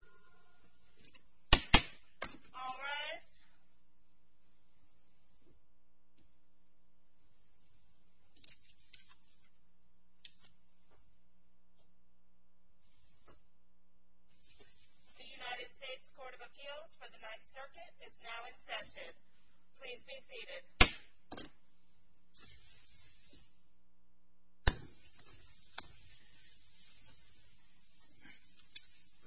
The United States Court of Appeals for the Ninth Circuit is now in session. Please be seated.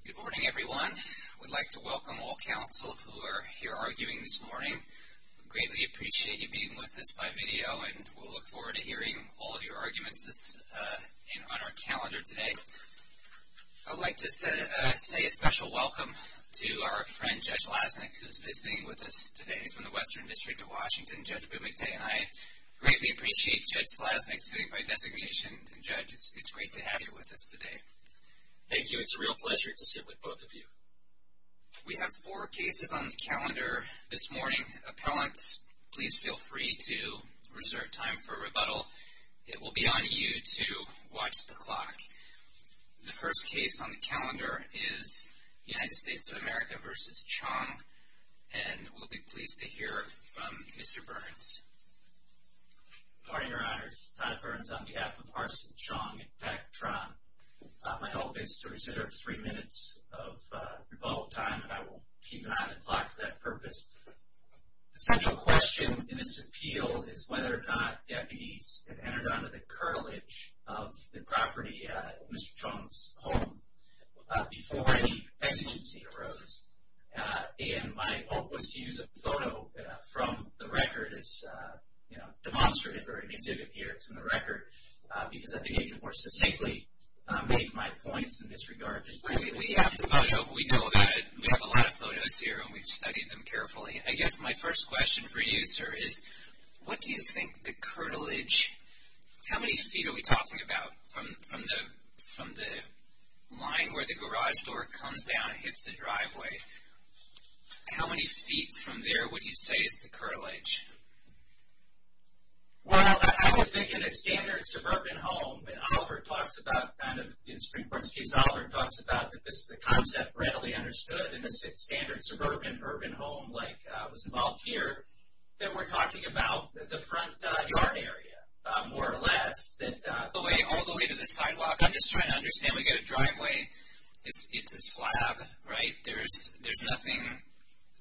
Good morning, everyone. We'd like to welcome all counsel who are here arguing this morning. We greatly appreciate you being with us by video and we'll look forward to hearing all of your arguments on our calendar today. I'd like to say a special welcome to our friend, Judge Lasnik, who is visiting with us today from the Western District of Washington. Judge Bumaday and I greatly appreciate Judge Lasnik sitting by designation. Judge, it's great to have you with us today. Thank you. It's a real pleasure to sit with both of you. We have four cases on the calendar this morning. Appellants, please feel free to reserve time for rebuttal. It will be on you to watch the clock. The first case on the calendar is United States of America v. Chong, and we'll be pleased to hear from Mr. Burns. Good morning, Your Honors. Todd Burns on behalf of Arsene Chong and Pat Tron. My hope is to reserve three minutes of rebuttal time and I will keep an eye on the clock for that purpose. The central question in this appeal is whether or not deputies have entered under the curtilage of the property, Mr. Chong's home, before any exigency arose. And my hope was to use a photo from the record as a demonstrative or an exhibit here from the record, because I think it can more succinctly make my points in this regard. We have the photo. We know about it. We have a lot of photos here and we've studied them carefully. I guess my first question for you, sir, is what do you think the curtilage, how many feet are we talking about from the line where the garage door comes down and hits the driveway? How many feet from there would you say is the curtilage? Well, I would think in a standard suburban home, and Oliver talks about kind of, in Supreme Court's case, Oliver talks about that this is a concept readily understood in a standard suburban urban home like was involved here, that we're talking about the front yard area, more or less. All the way to the sidewalk. I'm just trying to understand. We've got a driveway. It's a slab, right? There's nothing.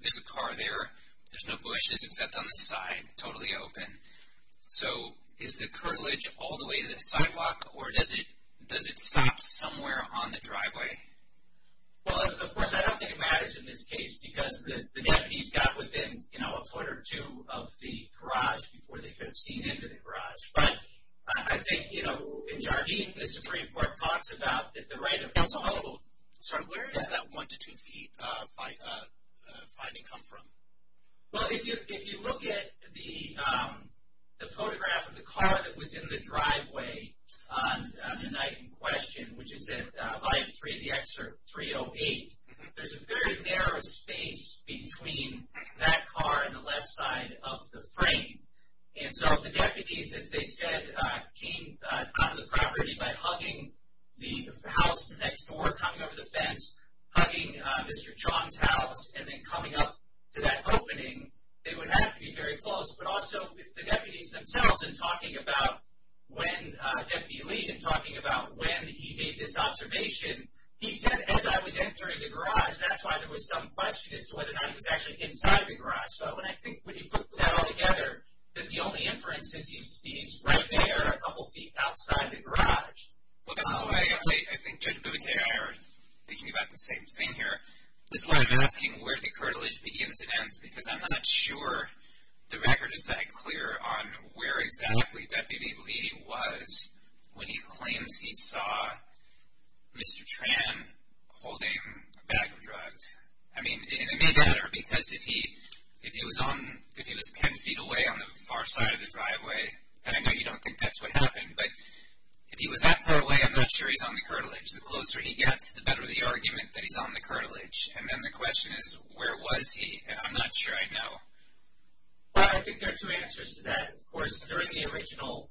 There's a car there. There's no bushes except on the side, totally open. So is the curtilage all the way to the sidewalk or does it stop somewhere on the driveway? Well, of course, I don't think it matters in this case because the deputies got within a foot or two of the garage before they could have seen into the garage. But I think, you know, in Jardim, the Supreme Court talks about the right of way. Sorry, where does that one to two feet finding come from? Well, if you look at the photograph of the car that was in the driveway on the night in question, which is at volume three of the excerpt 308, there's a very narrow space between that car and the left side of the frame. And so the deputies, as they said, came out of the property by hugging the house next door, coming over the fence, hugging Mr. Chong's house, and then coming up to that opening. They would have to be very close, but also the deputies themselves and talking about when Deputy Lee and talking about when he made this observation, he said, as I was entering the garage, that's why there was some question as to whether or not he was actually inside the garage. So when I think when you put that all together, that the only inference is he's right there a couple of feet outside the garage. Well, this is why I think Judge Boutier and I are thinking about the same thing here. This is why I'm asking where the curtilage begins and ends, because I'm not sure the record is that clear on where exactly Deputy Lee was when he claims he saw Mr. Tran holding a bag of drugs. I mean, it may matter, because if he was 10 feet away on the far side of the driveway, and I know you don't think that's what happened, but if he was that far away, I'm not sure he's on the curtilage. The closer he gets, the better the argument that he's on the curtilage. And then the question is, where was he? And I'm not sure I know. Well, I think there are two answers to that. Of course, during the original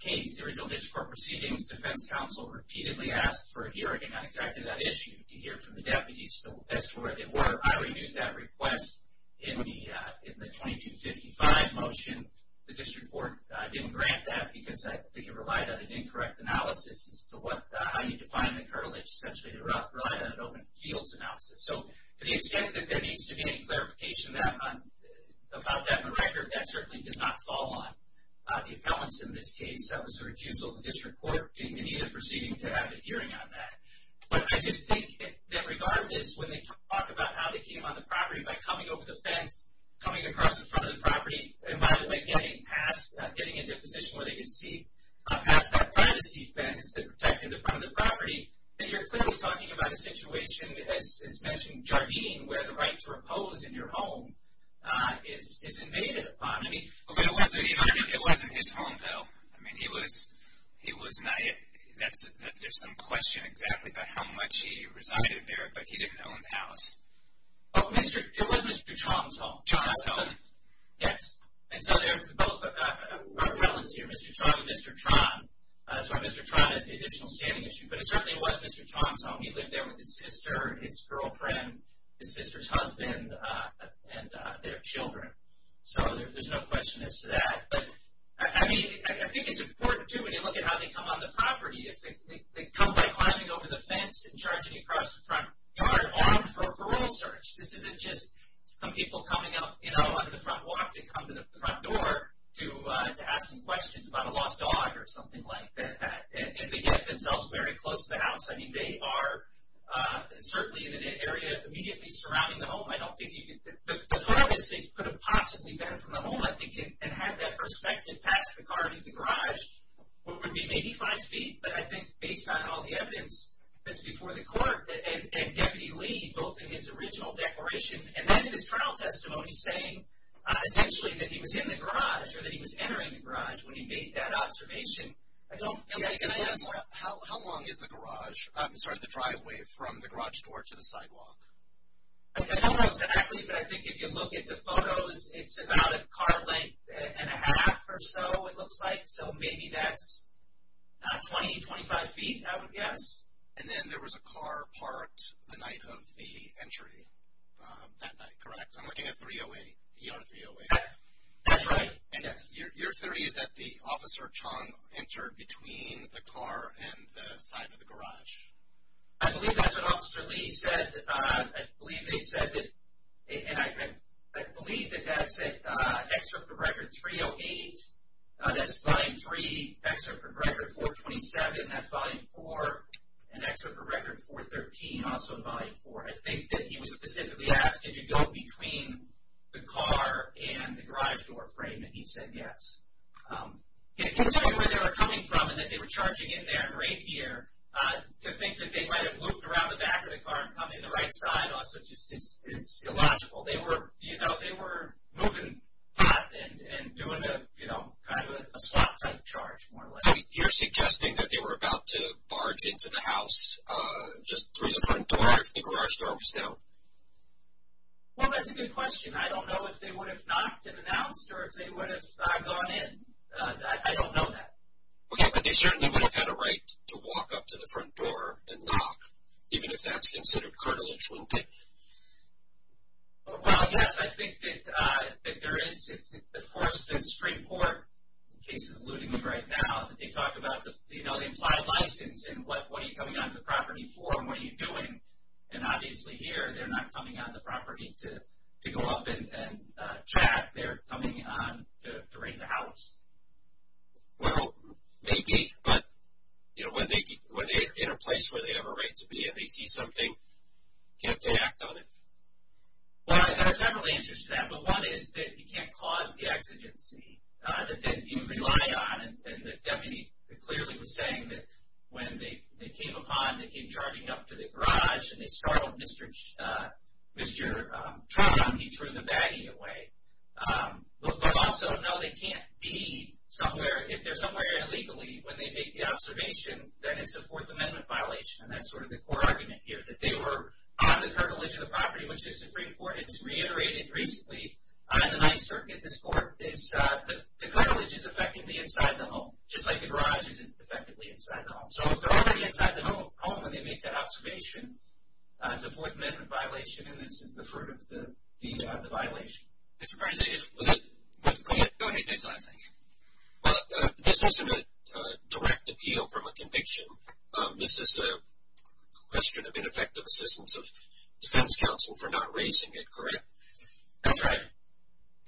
case, the original district court proceedings, defense counsel repeatedly asked for a hearing on exactly that issue to hear from the deputies. So as to where they were, I reviewed that request in the 2255 motion. The district court didn't grant that because I think it relied on an incorrect analysis as to how you define the curtilage, essentially relied on an open fields analysis. So to the extent that there needs to be any clarification about that in the record, that certainly does not fall on the appellants in this case. That was a refusal of the district court in either proceeding to have a hearing on that. But I just think that regardless, when they talk about how they came on the property by coming over the fence, coming across the front of the property, and by the way, getting past, getting into a position where they could see past that privacy fence that protected the front of the property, then you're clearly talking about a situation, as mentioned, Jardine, where the right to repose in your home is invaded upon. But it wasn't his home, though. I mean, he was not yet. There's some question exactly about how much he resided there, but he didn't own the house. It was Mr. Tron's home. Tron's home. Yes. And so there were appellants here, Mr. Tron and Mr. Tron. That's why Mr. Tron has the additional standing issue. But it certainly was Mr. Tron's home. He lived there with his sister, his girlfriend, his sister's husband, and their children. So there's no question as to that. But, I mean, I think it's important, too, when you look at how they come on the property, if they come by climbing over the fence and charging across the front yard armed for a parole search. This isn't just some people coming up, you know, under the front walk to come to the front door to ask some questions about a lost dog or something like that. And they get themselves very close to the house. I mean, they are certainly in an area immediately surrounding the home. The furthest they could have possibly been from the home, I think, and had that perspective past the car and into the garage would be maybe five feet. But I think based on all the evidence that's before the court and Deputy Lee, both in his original declaration and then in his trial testimony saying, essentially, that he was in the garage or that he was entering the garage when he made that observation, I don't think he was. Can I ask, how long is the garage, sorry, the driveway from the garage door to the sidewalk? I don't know exactly, but I think if you look at the photos, it's about a car length and a half or so, it looks like. So maybe that's 20, 25 feet, I would guess. And then there was a car parked the night of the entry that night, correct? I'm looking at 308, ER 308. That's right. And your theory is that the officer, Chong, entered between the car and the side of the garage. I believe that's what Officer Lee said. I believe they said that, and I believe that that's an excerpt from Record 308. That's Volume 3, excerpt from Record 427, that's Volume 4, and excerpt from Record 413, also Volume 4. I think that he was specifically asked, did you go between the car and the garage door frame, and he said yes. Considering where they were coming from and that they were charging in there in reindeer, to think that they might have looped around the back of the car and come in the right side also just is illogical. They were moving pot and doing kind of a swap type charge, more or less. So you're suggesting that they were about to barge into the house just through the front door if the garage door was down? Well, that's a good question. I don't know if they would have knocked and announced or if they would have gone in. I don't know that. Okay, but they certainly would have had a right to walk up to the front door and knock, even if that's considered cartilage looping. Well, yes, I think that there is. Of course, the Supreme Court case is eluding me right now. They talk about the implied license and what are you coming onto the property for and what are you doing, and obviously here they're not coming onto the property to go up and track. They're coming on to raid the house. Well, maybe, but when they're in a place where they have a right to be and they see something, can't they act on it? Well, there are several answers to that, but one is that you can't cause the exigency. You rely on, and the deputy clearly was saying that when they came upon, they came charging up to the garage and they startled Mr. Trump, he threw the baggie away. But also, no, they can't be somewhere. If they're somewhere illegally, when they make the observation, then it's a Fourth Amendment violation, and that's sort of the core argument here, that they were on the cartilage of the property, which the Supreme Court has reiterated recently on the Ninth Circuit. The cartilage is effectively inside the home, just like the garage is effectively inside the home. So if they're already inside the home when they make that observation, it's a Fourth Amendment violation, and this is the fruit of the violation. Mr. President, if—go ahead. Go ahead, James. Well, this isn't a direct appeal from a conviction. This is a question of ineffective assistance of defense counsel for not raising it, correct? That's right.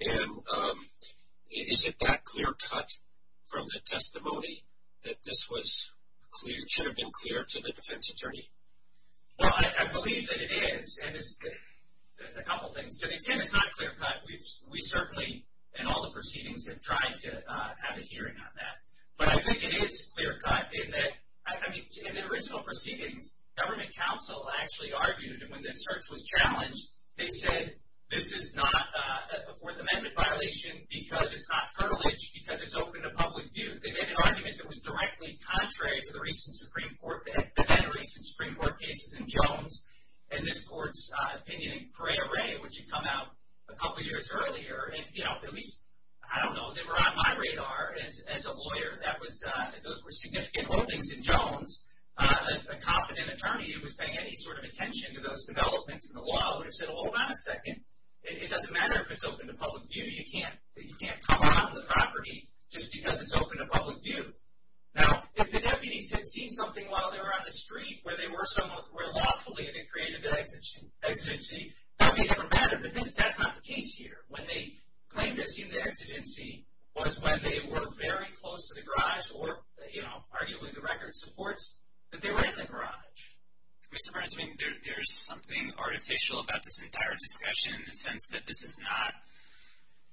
And is it that clear cut from the testimony that this should have been clear to the defense attorney? Well, I believe that it is, and a couple things. To the extent it's not clear cut, we certainly, in all the proceedings, have tried to have a hearing on that. But I think it is clear cut in that, I mean, in the original proceedings, government counsel actually argued, and when this search was challenged, they said this is not a Fourth Amendment violation because it's not cartilage, because it's open to public view. They made an argument that was directly contrary to the recent Supreme Court—the then-recent Supreme Court cases in Jones and this court's opinion in Pereira, which had come out a couple years earlier. And, you know, at least, I don't know, they were on my radar as a lawyer. Those were significant openings in Jones. A competent attorney who was paying any sort of attention to those developments in the law would have said, hold on a second, it doesn't matter if it's open to public view. You can't come out on the property just because it's open to public view. Now, if the deputies had seen something while they were on the street where they were lawfully in a creative exigency, that would be a different matter. But that's not the case here. When they claimed to have seen the exigency was when they were very close to the garage or, you know, arguably the record supports that they were in the garage. Mr. Brensman, there's something artificial about this entire discussion in the sense that this is not—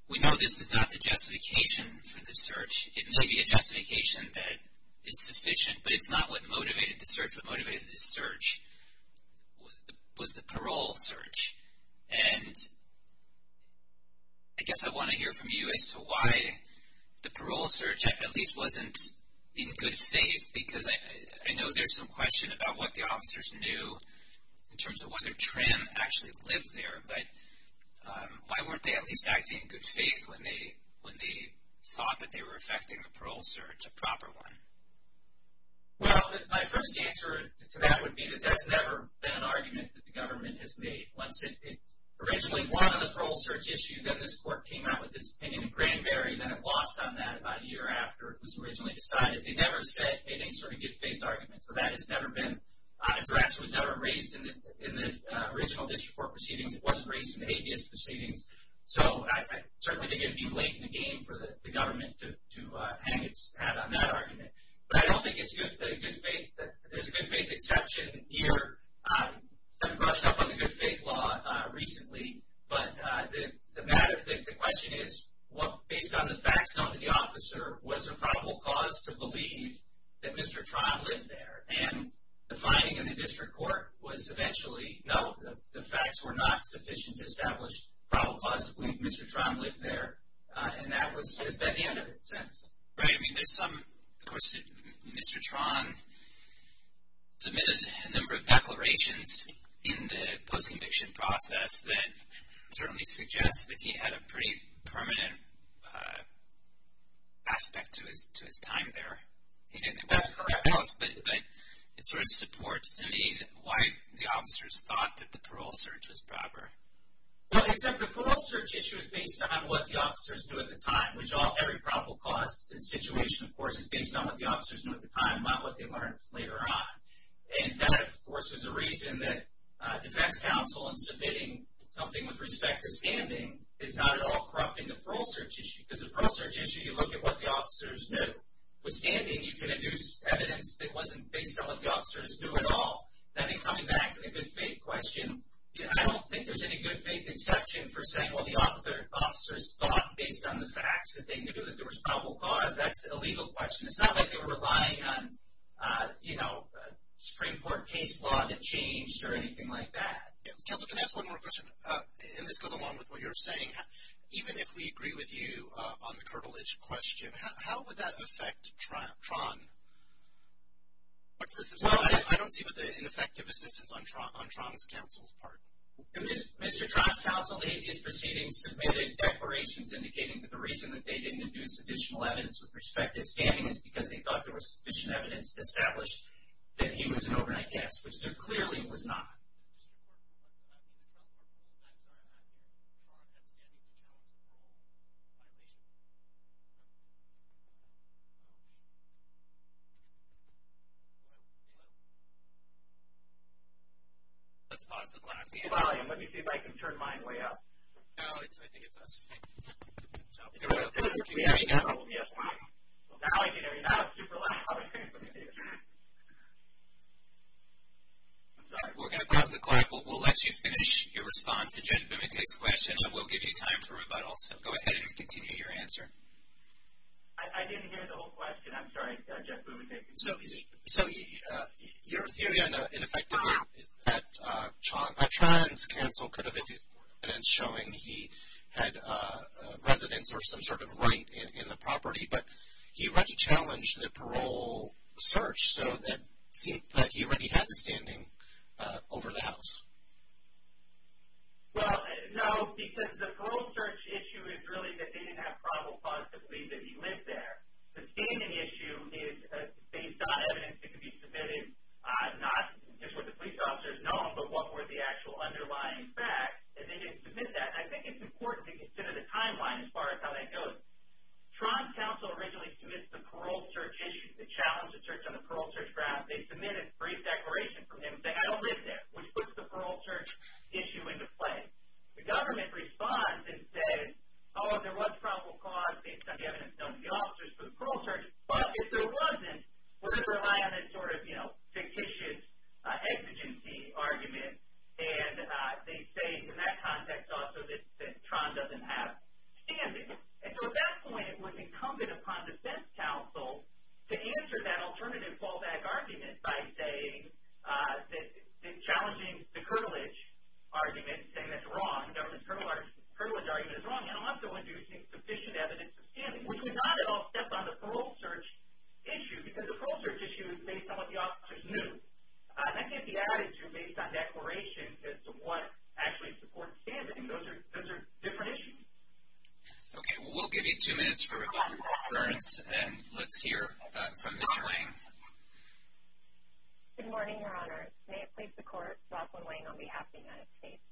we know this is not the justification for the search. It may be a justification that is sufficient, but it's not what motivated the search. What motivated the search was the parole search. And I guess I want to hear from you as to why the parole search at least wasn't in good faith, because I know there's some question about what the officers knew in terms of whether Trim actually lived there. But why weren't they at least acting in good faith when they thought that they were affecting the parole search, a proper one? Well, my first answer to that would be that that's never been an argument that the government has made. Once it originally won on the parole search issue, then this court came out with its opinion in Granberry, and then it lost on that about a year after it was originally decided. They never said any sort of good faith argument. So that has never been addressed, was never raised in the original district court proceedings. It wasn't raised in the habeas proceedings. So I certainly think it would be late in the game for the government to hang its hat on that argument. But I don't think it's good faith. There's a good faith exception here. I've brushed up on the good faith law recently. But the matter, the question is, based on the facts known to the officer, was there probable cause to believe that Mr. Tron lived there? And the finding in the district court was eventually no. The facts were not sufficient to establish probable cause to believe Mr. Tron lived there. And that was the end of it. Right. I mean, there's some, of course, Mr. Tron submitted a number of declarations in the post-conviction process that certainly suggest that he had a pretty permanent aspect to his time there. That's correct. But it sort of supports to me why the officers thought that the parole search was proper. Well, except the parole search issue is based on what the officers knew at the time, which every probable cause situation, of course, is based on what the officers knew at the time, not what they learned later on. And that, of course, is a reason that defense counsel in submitting something with respect to standing is not at all corrupting the parole search issue. Because the parole search issue, you look at what the officers knew. With standing, you can induce evidence that wasn't based on what the officers knew at all. Then in coming back to the good faith question, I don't think there's any good faith exception for saying, well, the officers thought based on the facts that they knew that there was probable cause. That's a legal question. It's not like they were relying on, you know, Supreme Court case law that changed or anything like that. Counsel, can I ask one more question? And this goes along with what you were saying. Even if we agree with you on the curtilage question, how would that affect Tron? I don't see an effective assistance on Tron's counsel's part. Mr. Tron's counsel in his proceedings submitted declarations indicating that the reason that they didn't induce additional evidence with respect to standing is because they thought there was sufficient evidence to establish that he was an overnight guest, which there clearly was not. Mr. Tron, I'm sorry, I'm not here. Tron had standing to challenge the parole violation. Let's pause the clock here. Let me see if I can turn mine way up. No, I think it's us. Now I can hear you. Now it's super loud. I'm sorry. We're going to pause the clock. We'll let you finish your response to Judge Bumatek's question, and we'll give you time for rebuttal. So go ahead and continue your answer. I didn't hear the whole question. I'm sorry, Judge Bumatek. So your theory, in effect, is that Tron's counsel could have induced evidence showing he had residence or some sort of right in the property, but he already challenged the parole search, so it seems like he already had the standing over the house. Well, no, because the parole search issue is really that they didn't have probable cause to believe that he lived there. The standing issue is based on evidence that could be submitted, not just what the police officers know, but what were the actual underlying facts, and they didn't submit that. I think it's important to consider the timeline as far as how that goes. Tron's counsel originally submits the parole search issue, the challenge of the search on the parole search draft. They submit a brief declaration from him saying, I don't live there, which puts the parole search issue into play. The government responds and says, oh, there was probable cause based on the evidence known to the officers for the parole search, but if there wasn't, we're going to rely on a sort of, you know, fictitious exigency argument, and they say in that context also that Tron doesn't have standing. And so at that point it was incumbent upon defense counsel to answer that alternative fallback argument by saying, challenging the curvilege argument, saying that's wrong, the government's curvilege argument is wrong, and also inducing sufficient evidence of standing, which would not at all step on the parole search issue because the parole search issue is based on what the officers knew. That can't be added to based on declarations as to what actually supports standing. Those are different issues. Okay. Well, we'll give you two minutes for rebuttal, occurrence, and let's hear from Ms. Lang. Good morning, Your Honor. May it please the Court, Rosalyn Lang on behalf of the United States.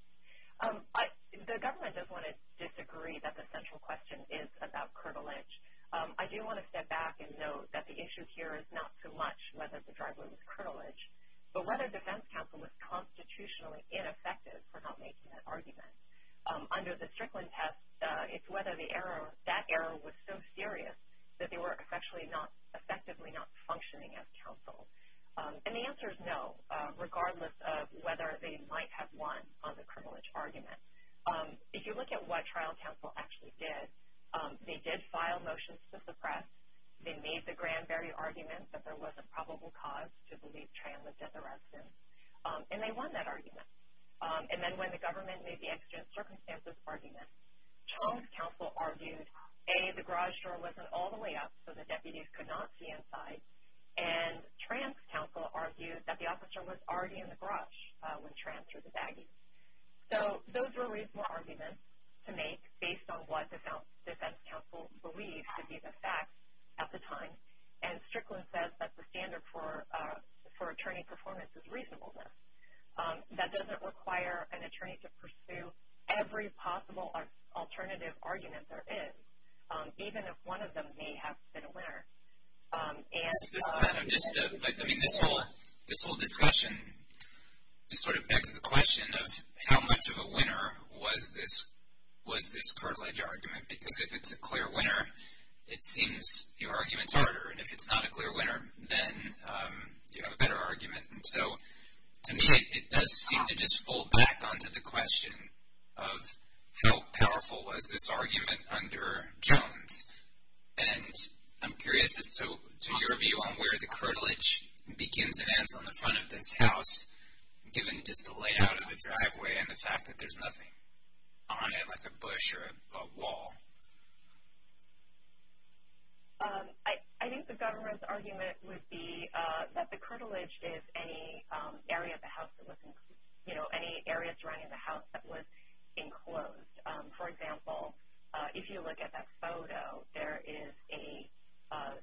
The government does want to disagree that the central question is about curvilege. I do want to step back and note that the issue here is not so much whether the driveway was curvilege, but whether defense counsel was constitutionally ineffective for not making that argument. Under the Strickland test, it's whether that error was so serious that they were effectively not functioning as counsel. And the answer is no, regardless of whether they might have won on the curvilege argument. If you look at what trial counsel actually did, they did file motions to suppress. They made the Granberry argument that there was a probable cause to believe Tran lived at the residence, and they won that argument. And then when the government made the extra-circumstances argument, Charles counsel argued, A, the garage door wasn't all the way up so the deputies could not see inside, and Tran's counsel argued that the officer was already in the garage when Tran threw the baggy. So those were reasonable arguments to make based on what the defense counsel believed to be the fact at the time. And Strickland says that the standard for attorney performance is reasonableness. That doesn't require an attorney to pursue every possible alternative argument there is, even if one of them may have been a winner. This whole discussion just sort of begs the question of how much of a winner was this curvilege argument? Because if it's a clear winner, it seems your argument's harder. And if it's not a clear winner, then you have a better argument. So to me, it does seem to just fold back onto the question of how powerful was this argument under Jones. And I'm curious as to your view on where the curvilege begins and ends on the front of this house, given just the layout of the driveway and the fact that there's nothing on it like a bush or a wall. I think the government's argument would be that the curvilege is any area of the house that was enclosed, you know, any area surrounding the house that was enclosed. For example, if you look at that photo, there is a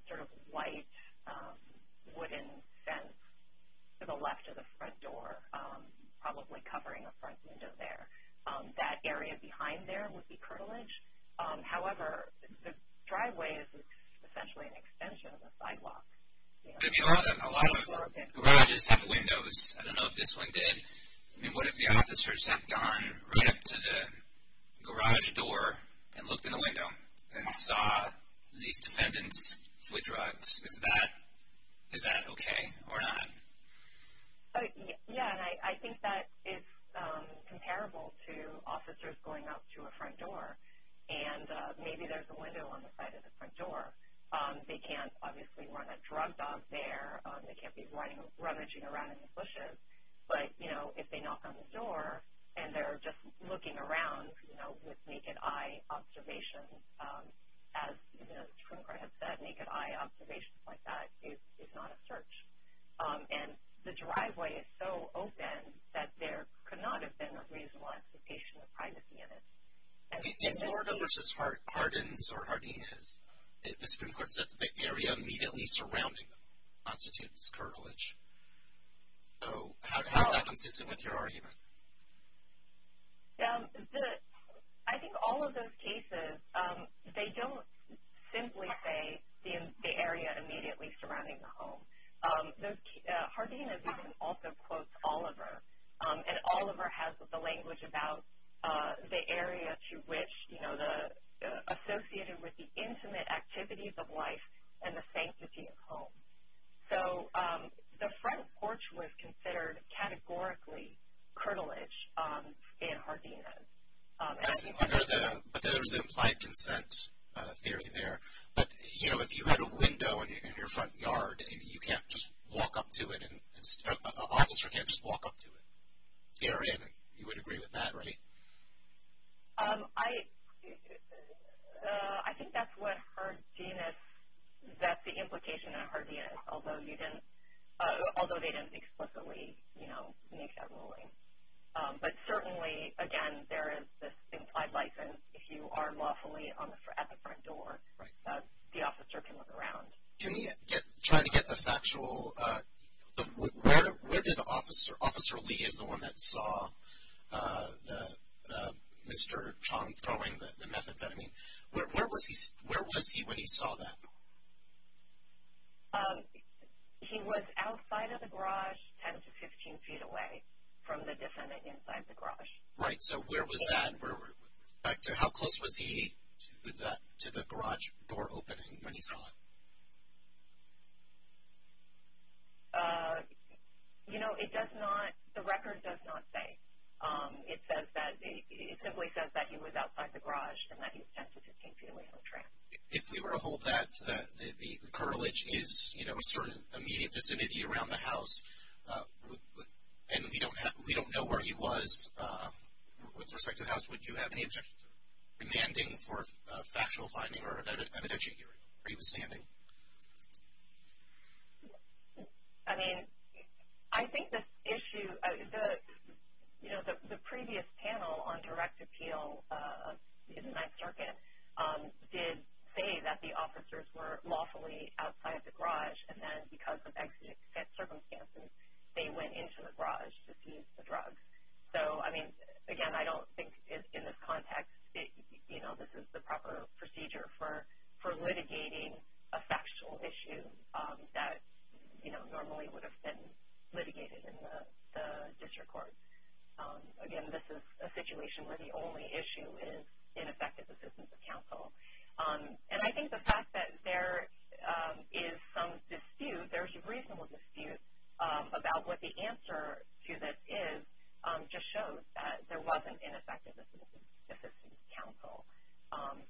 sort of white wooden fence to the left of the front door, probably covering a front window there. That area behind there would be curvilege. However, the driveway is essentially an extension of the sidewalk. A lot of garages have windows. I don't know if this one did. I mean, what if the officer stepped on right up to the garage door and looked in the window and saw these defendants with drugs? Is that okay or not? Yeah, and I think that is comparable to officers going up to a front door, and maybe there's a window on the side of the front door. They can't obviously run a drug dog there. They can't be rummaging around in these bushes. But, you know, if they knock on the door and they're just looking around, you know, with naked eye observation, as the Supreme Court has said, naked eye observation like that is not a search. And the driveway is so open that there could not have been a reasonable expectation of privacy in it. In Florida versus Hardin's or Hardina's, the Supreme Court said the area immediately surrounding constitutes curvilege. So how is that consistent with your argument? I think all of those cases, they don't simply say the area immediately surrounding the home. Hardina's even also quotes Oliver, and Oliver has the language about the area to which, you know, associated with the intimate activities of life and the sanctity of home. So the front porch was considered categorically curvilege in Hardina's. But there was an implied consent theory there. But, you know, if you had a window in your front yard and you can't just walk up to it and an officer can't just walk up to it, therein you would agree with that, right? I think that's what Hardina's, that's the implication of Hardina's, although they didn't explicitly, you know, make that ruling. But certainly, again, there is this implied license. If you are lawfully at the front door, the officer can look around. Can we try to get the factual, where did Officer Lee, as the one that saw Mr. Chong throwing the methamphetamine, where was he when he saw that? He was outside of the garage, 10 to 15 feet away from the defendant inside the garage. Right. So where was that with respect to how close was he to the garage door opening when he saw it? You know, it does not, the record does not say. It says that, it simply says that he was outside the garage and that he was 10 to 15 feet away from the tram. If we were to hold that, the curvilege is, you know, a certain immediate vicinity around the house. And we don't know where he was with respect to the house, would you have any objection to demanding for factual finding or evidentiary hearing where he was standing? I mean, I think this issue, you know, the previous panel on direct appeal in the Ninth Circuit did say that the officers were lawfully outside the garage, and then because of accident circumstances, they went into the garage to seize the drugs. So, I mean, again, I don't think in this context, you know, this is the proper procedure for litigating a factual issue that, you know, normally would have been litigated in the district court. Again, this is a situation where the only issue is ineffective assistance of counsel. And I think the fact that there is some dispute, there's reasonable dispute, about what the answer to this is just shows that there wasn't ineffective assistance of counsel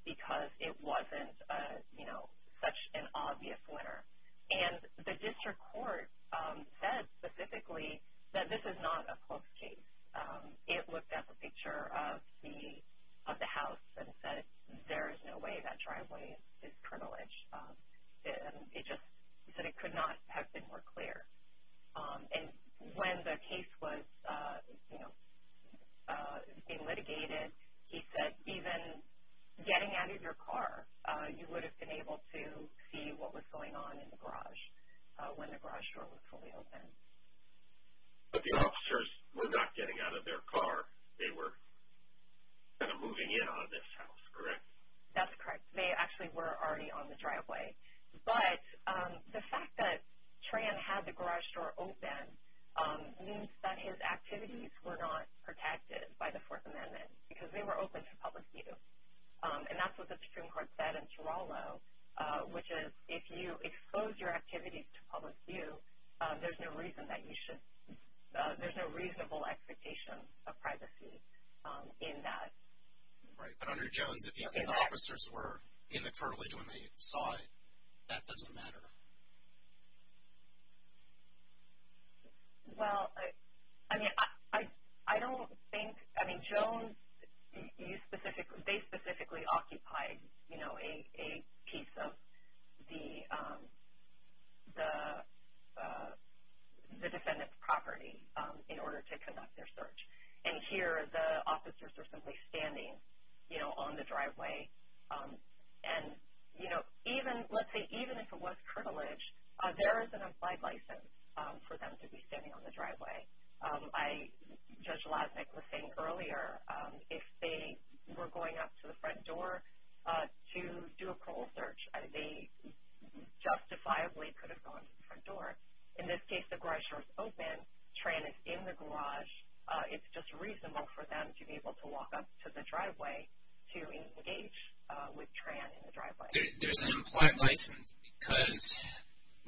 because it wasn't, you know, such an obvious winner. And the district court said specifically that this is not a close case. It looked at the picture of the house and said there is no way that driveway is privileged. It just said it could not have been more clear. And when the case was, you know, being litigated, he said even getting out of your car, you would have been able to see what was going on in the garage when the garage door was fully open. But the officers were not getting out of their car. They were kind of moving in on this house, correct? That's correct. They actually were already on the driveway. But the fact that Tran had the garage door open means that his activities were not protected by the Fourth Amendment because they were open to public view. And that's what the district court said in Toronto, which is if you expose your activities to public view, there's no reason that you should – there's no reasonable expectation of privacy in that. Right. But under Jones, if the officers were in the curblidge when they saw it, that doesn't matter. Well, I mean, I don't think – I mean, Jones, they specifically occupied, you know, a piece of the defendant's property in order to conduct their search. And here the officers are simply standing, you know, on the driveway. And, you know, even – let's say even if it was curblidge, there is an implied license for them to be standing on the driveway. I – Judge Lasnik was saying earlier, if they were going up to the front door to do a parole search, they justifiably could have gone to the front door. In this case, the garage door is open. Tran is in the garage. It's just reasonable for them to be able to walk up to the driveway to engage with Tran in the driveway. There's an implied license because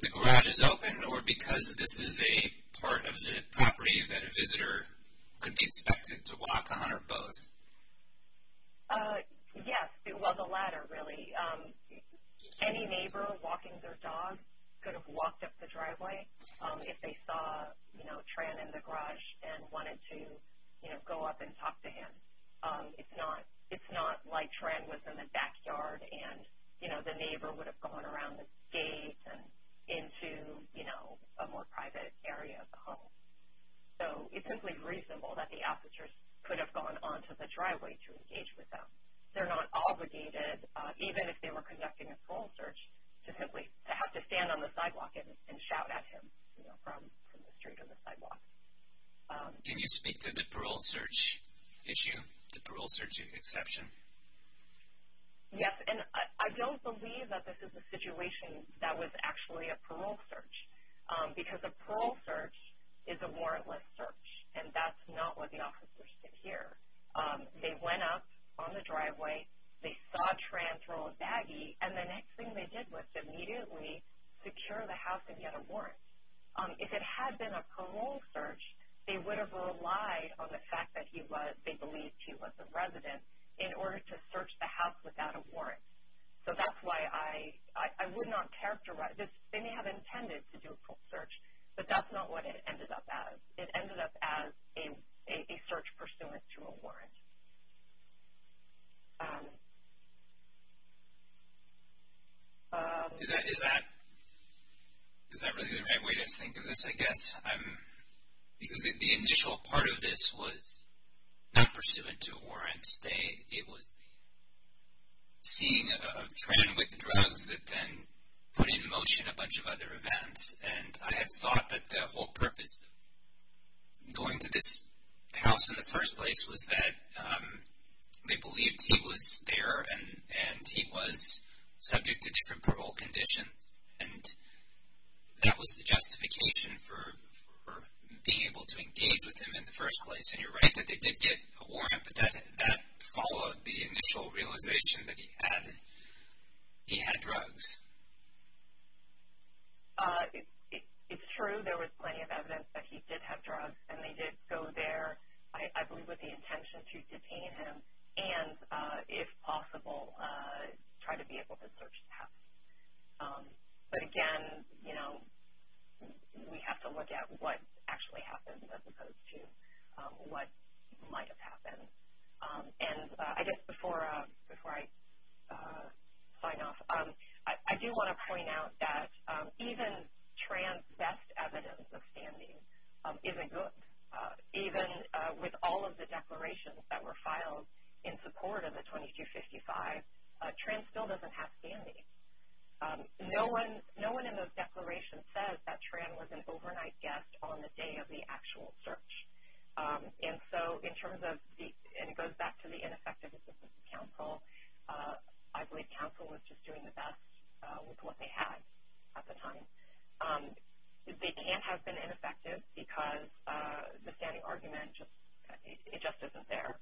the garage is open or because this is a part of the property that a visitor could be expected to walk on or both? Yes. Well, the latter, really. Any neighbor walking their dog could have walked up the driveway if they saw, you know, wanted to, you know, go up and talk to him. It's not like Tran was in the backyard and, you know, the neighbor would have gone around the gate and into, you know, a more private area of the home. So it's simply reasonable that the officers could have gone onto the driveway to engage with them. They're not obligated, even if they were conducting a parole search, to simply have to stand on the sidewalk and shout at him, you know, from the street or the sidewalk. Can you speak to the parole search issue, the parole search exception? Yes, and I don't believe that this is a situation that was actually a parole search because a parole search is a warrantless search, and that's not where the officers sit here. They went up on the driveway, they saw Tran throw a baggie, and the next thing they did was to immediately secure the house and get a warrant. If it had been a parole search, they would have relied on the fact that he was, they believed he was a resident, in order to search the house without a warrant. So that's why I would not characterize this. They may have intended to do a parole search, but that's not what it ended up as. It ended up as a search pursuant to a warrant. Is that really the right way to think of this, I guess? Because the initial part of this was not pursuant to a warrant. It was the seeing of Tran with drugs that then put in motion a bunch of other events, and I had thought that the whole purpose of going to this house in the first place was that they believed he was there and he was subject to different parole conditions, and that was the justification for being able to engage with him in the first place. And you're right that they did get a warrant, but that followed the initial realization that he had drugs. It's true there was plenty of evidence that he did have drugs, and they did go there, I believe with the intention to detain him and, if possible, try to be able to search the house. But, again, you know, we have to look at what actually happened as opposed to what might have happened. And I guess before I sign off, I do want to point out that even Tran's best evidence of standing isn't good. Even with all of the declarations that were filed in support of the 2255, Tran still doesn't have standing. No one in those declarations says that Tran was an overnight guest on the day of the actual search. And so in terms of the – and it goes back to the ineffectiveness of the counsel. I believe counsel was just doing the best with what they had at the time. They can't have been ineffective because the standing argument just isn't there,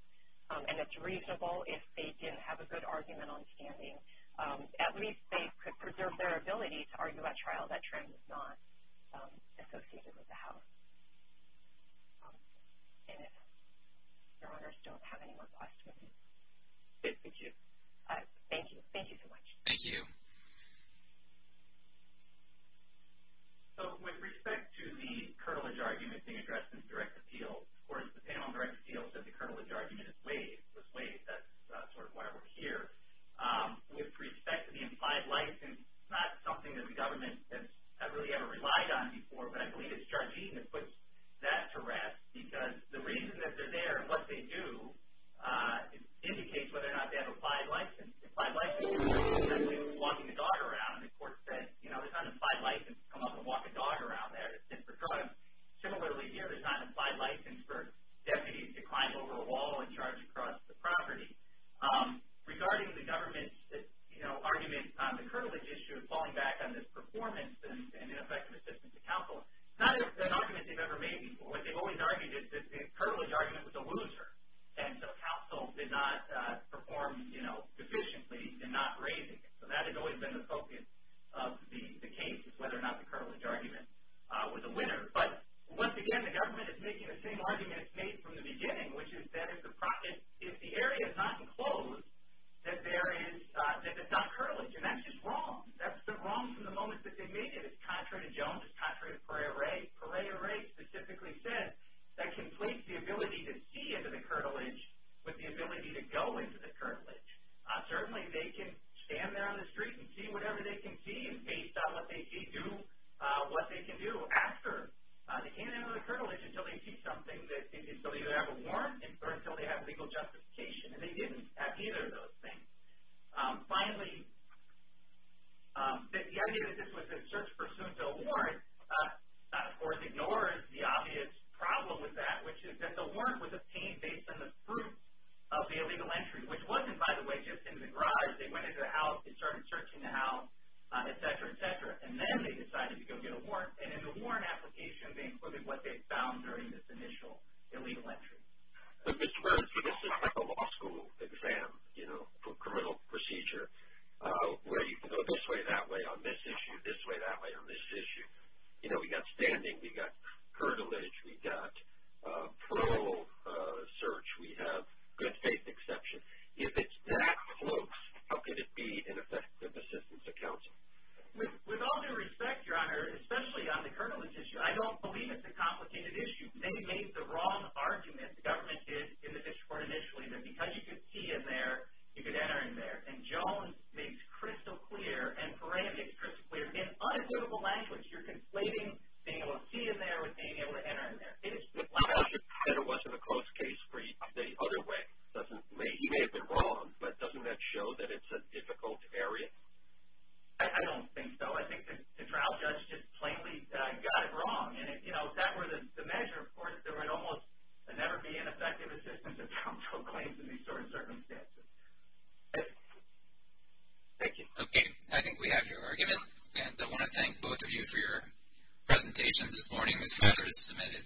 and it's reasonable if they didn't have a good argument on standing. So at least they could preserve their ability to argue at trial that Tran was not associated with the house. And if Your Honors don't have any more questions, good for you. Thank you. Thank you so much. Thank you. So with respect to the cartilage argument being addressed in direct appeal, of course the panel on direct appeal said the cartilage argument was waived. That's sort of why we're here. With respect to the implied license, it's not something that the government has really ever relied on before, but I believe it's Judge Eaton that puts that to rest because the reason that they're there and what they do indicates whether or not they have an implied license. Implied license means they're walking the dog around, and the court said, you know, there's not an implied license to come up and walk a dog around there. Similarly here, there's not an implied license for deputies to climb over a wall and charge across the property. Regarding the government's, you know, argument on the cartilage issue, falling back on this performance and ineffective assistance to counsel, it's not an argument they've ever made before. What they've always argued is that the cartilage argument was a loser, and so counsel did not perform, you know, efficiently in not raising it. So that has always been the focus of the case is whether or not the cartilage argument was a winner. Another thing, which is that if the area is not enclosed, that there is not cartilage, and that's just wrong. That's the wrong from the moment that they made it. It's contrary to Jones. It's contrary to Pereira. Pereira specifically said that completes the ability to see into the cartilage with the ability to go into the cartilage. Certainly they can stand there on the street and see whatever they can see based on what they can do after. They can't enter the cartilage until they see something, so they either have a warrant or until they have legal justification, and they didn't have either of those things. Finally, the idea that this was a search pursuant to a warrant, of course ignores the obvious problem with that, which is that the warrant was obtained based on the proof of the illegal entry, which wasn't, by the way, just in the garage. They went into the house. They started searching the house, et cetera, et cetera, and then they decided to go get a warrant. And in the warrant application, they included what they found during this initial illegal entry. But, Mr. Bernstein, this is like a law school exam, you know, for criminal procedure where you can go this way, that way on this issue, this way, that way on this issue. You know, we've got standing. We've got cartilage. We've got parole search. We have good faith exception. If it's that close, how can it be an effective assistance to counsel? With all due respect, Your Honor, especially on the cartilage issue, I don't believe it's a complicated issue. They made the wrong argument, the government did, in the district court initially, that because you could see in there, you could enter in there. And Jones makes crystal clear, and Perera makes crystal clear, in unavoidable language, you're conflating being able to see in there with being able to enter in there. If it wasn't a close case for you the other way, you may have been wrong, but doesn't that show that it's a difficult area? I don't think so. I think the trial judge just plainly got it wrong. And, you know, if that were the measure, of course, there would almost never be an effective assistance to counsel claims in these sort of circumstances. Thank you. Okay. I think we have your argument, and I want to thank both of you for your presentations this morning. This measure is submitted.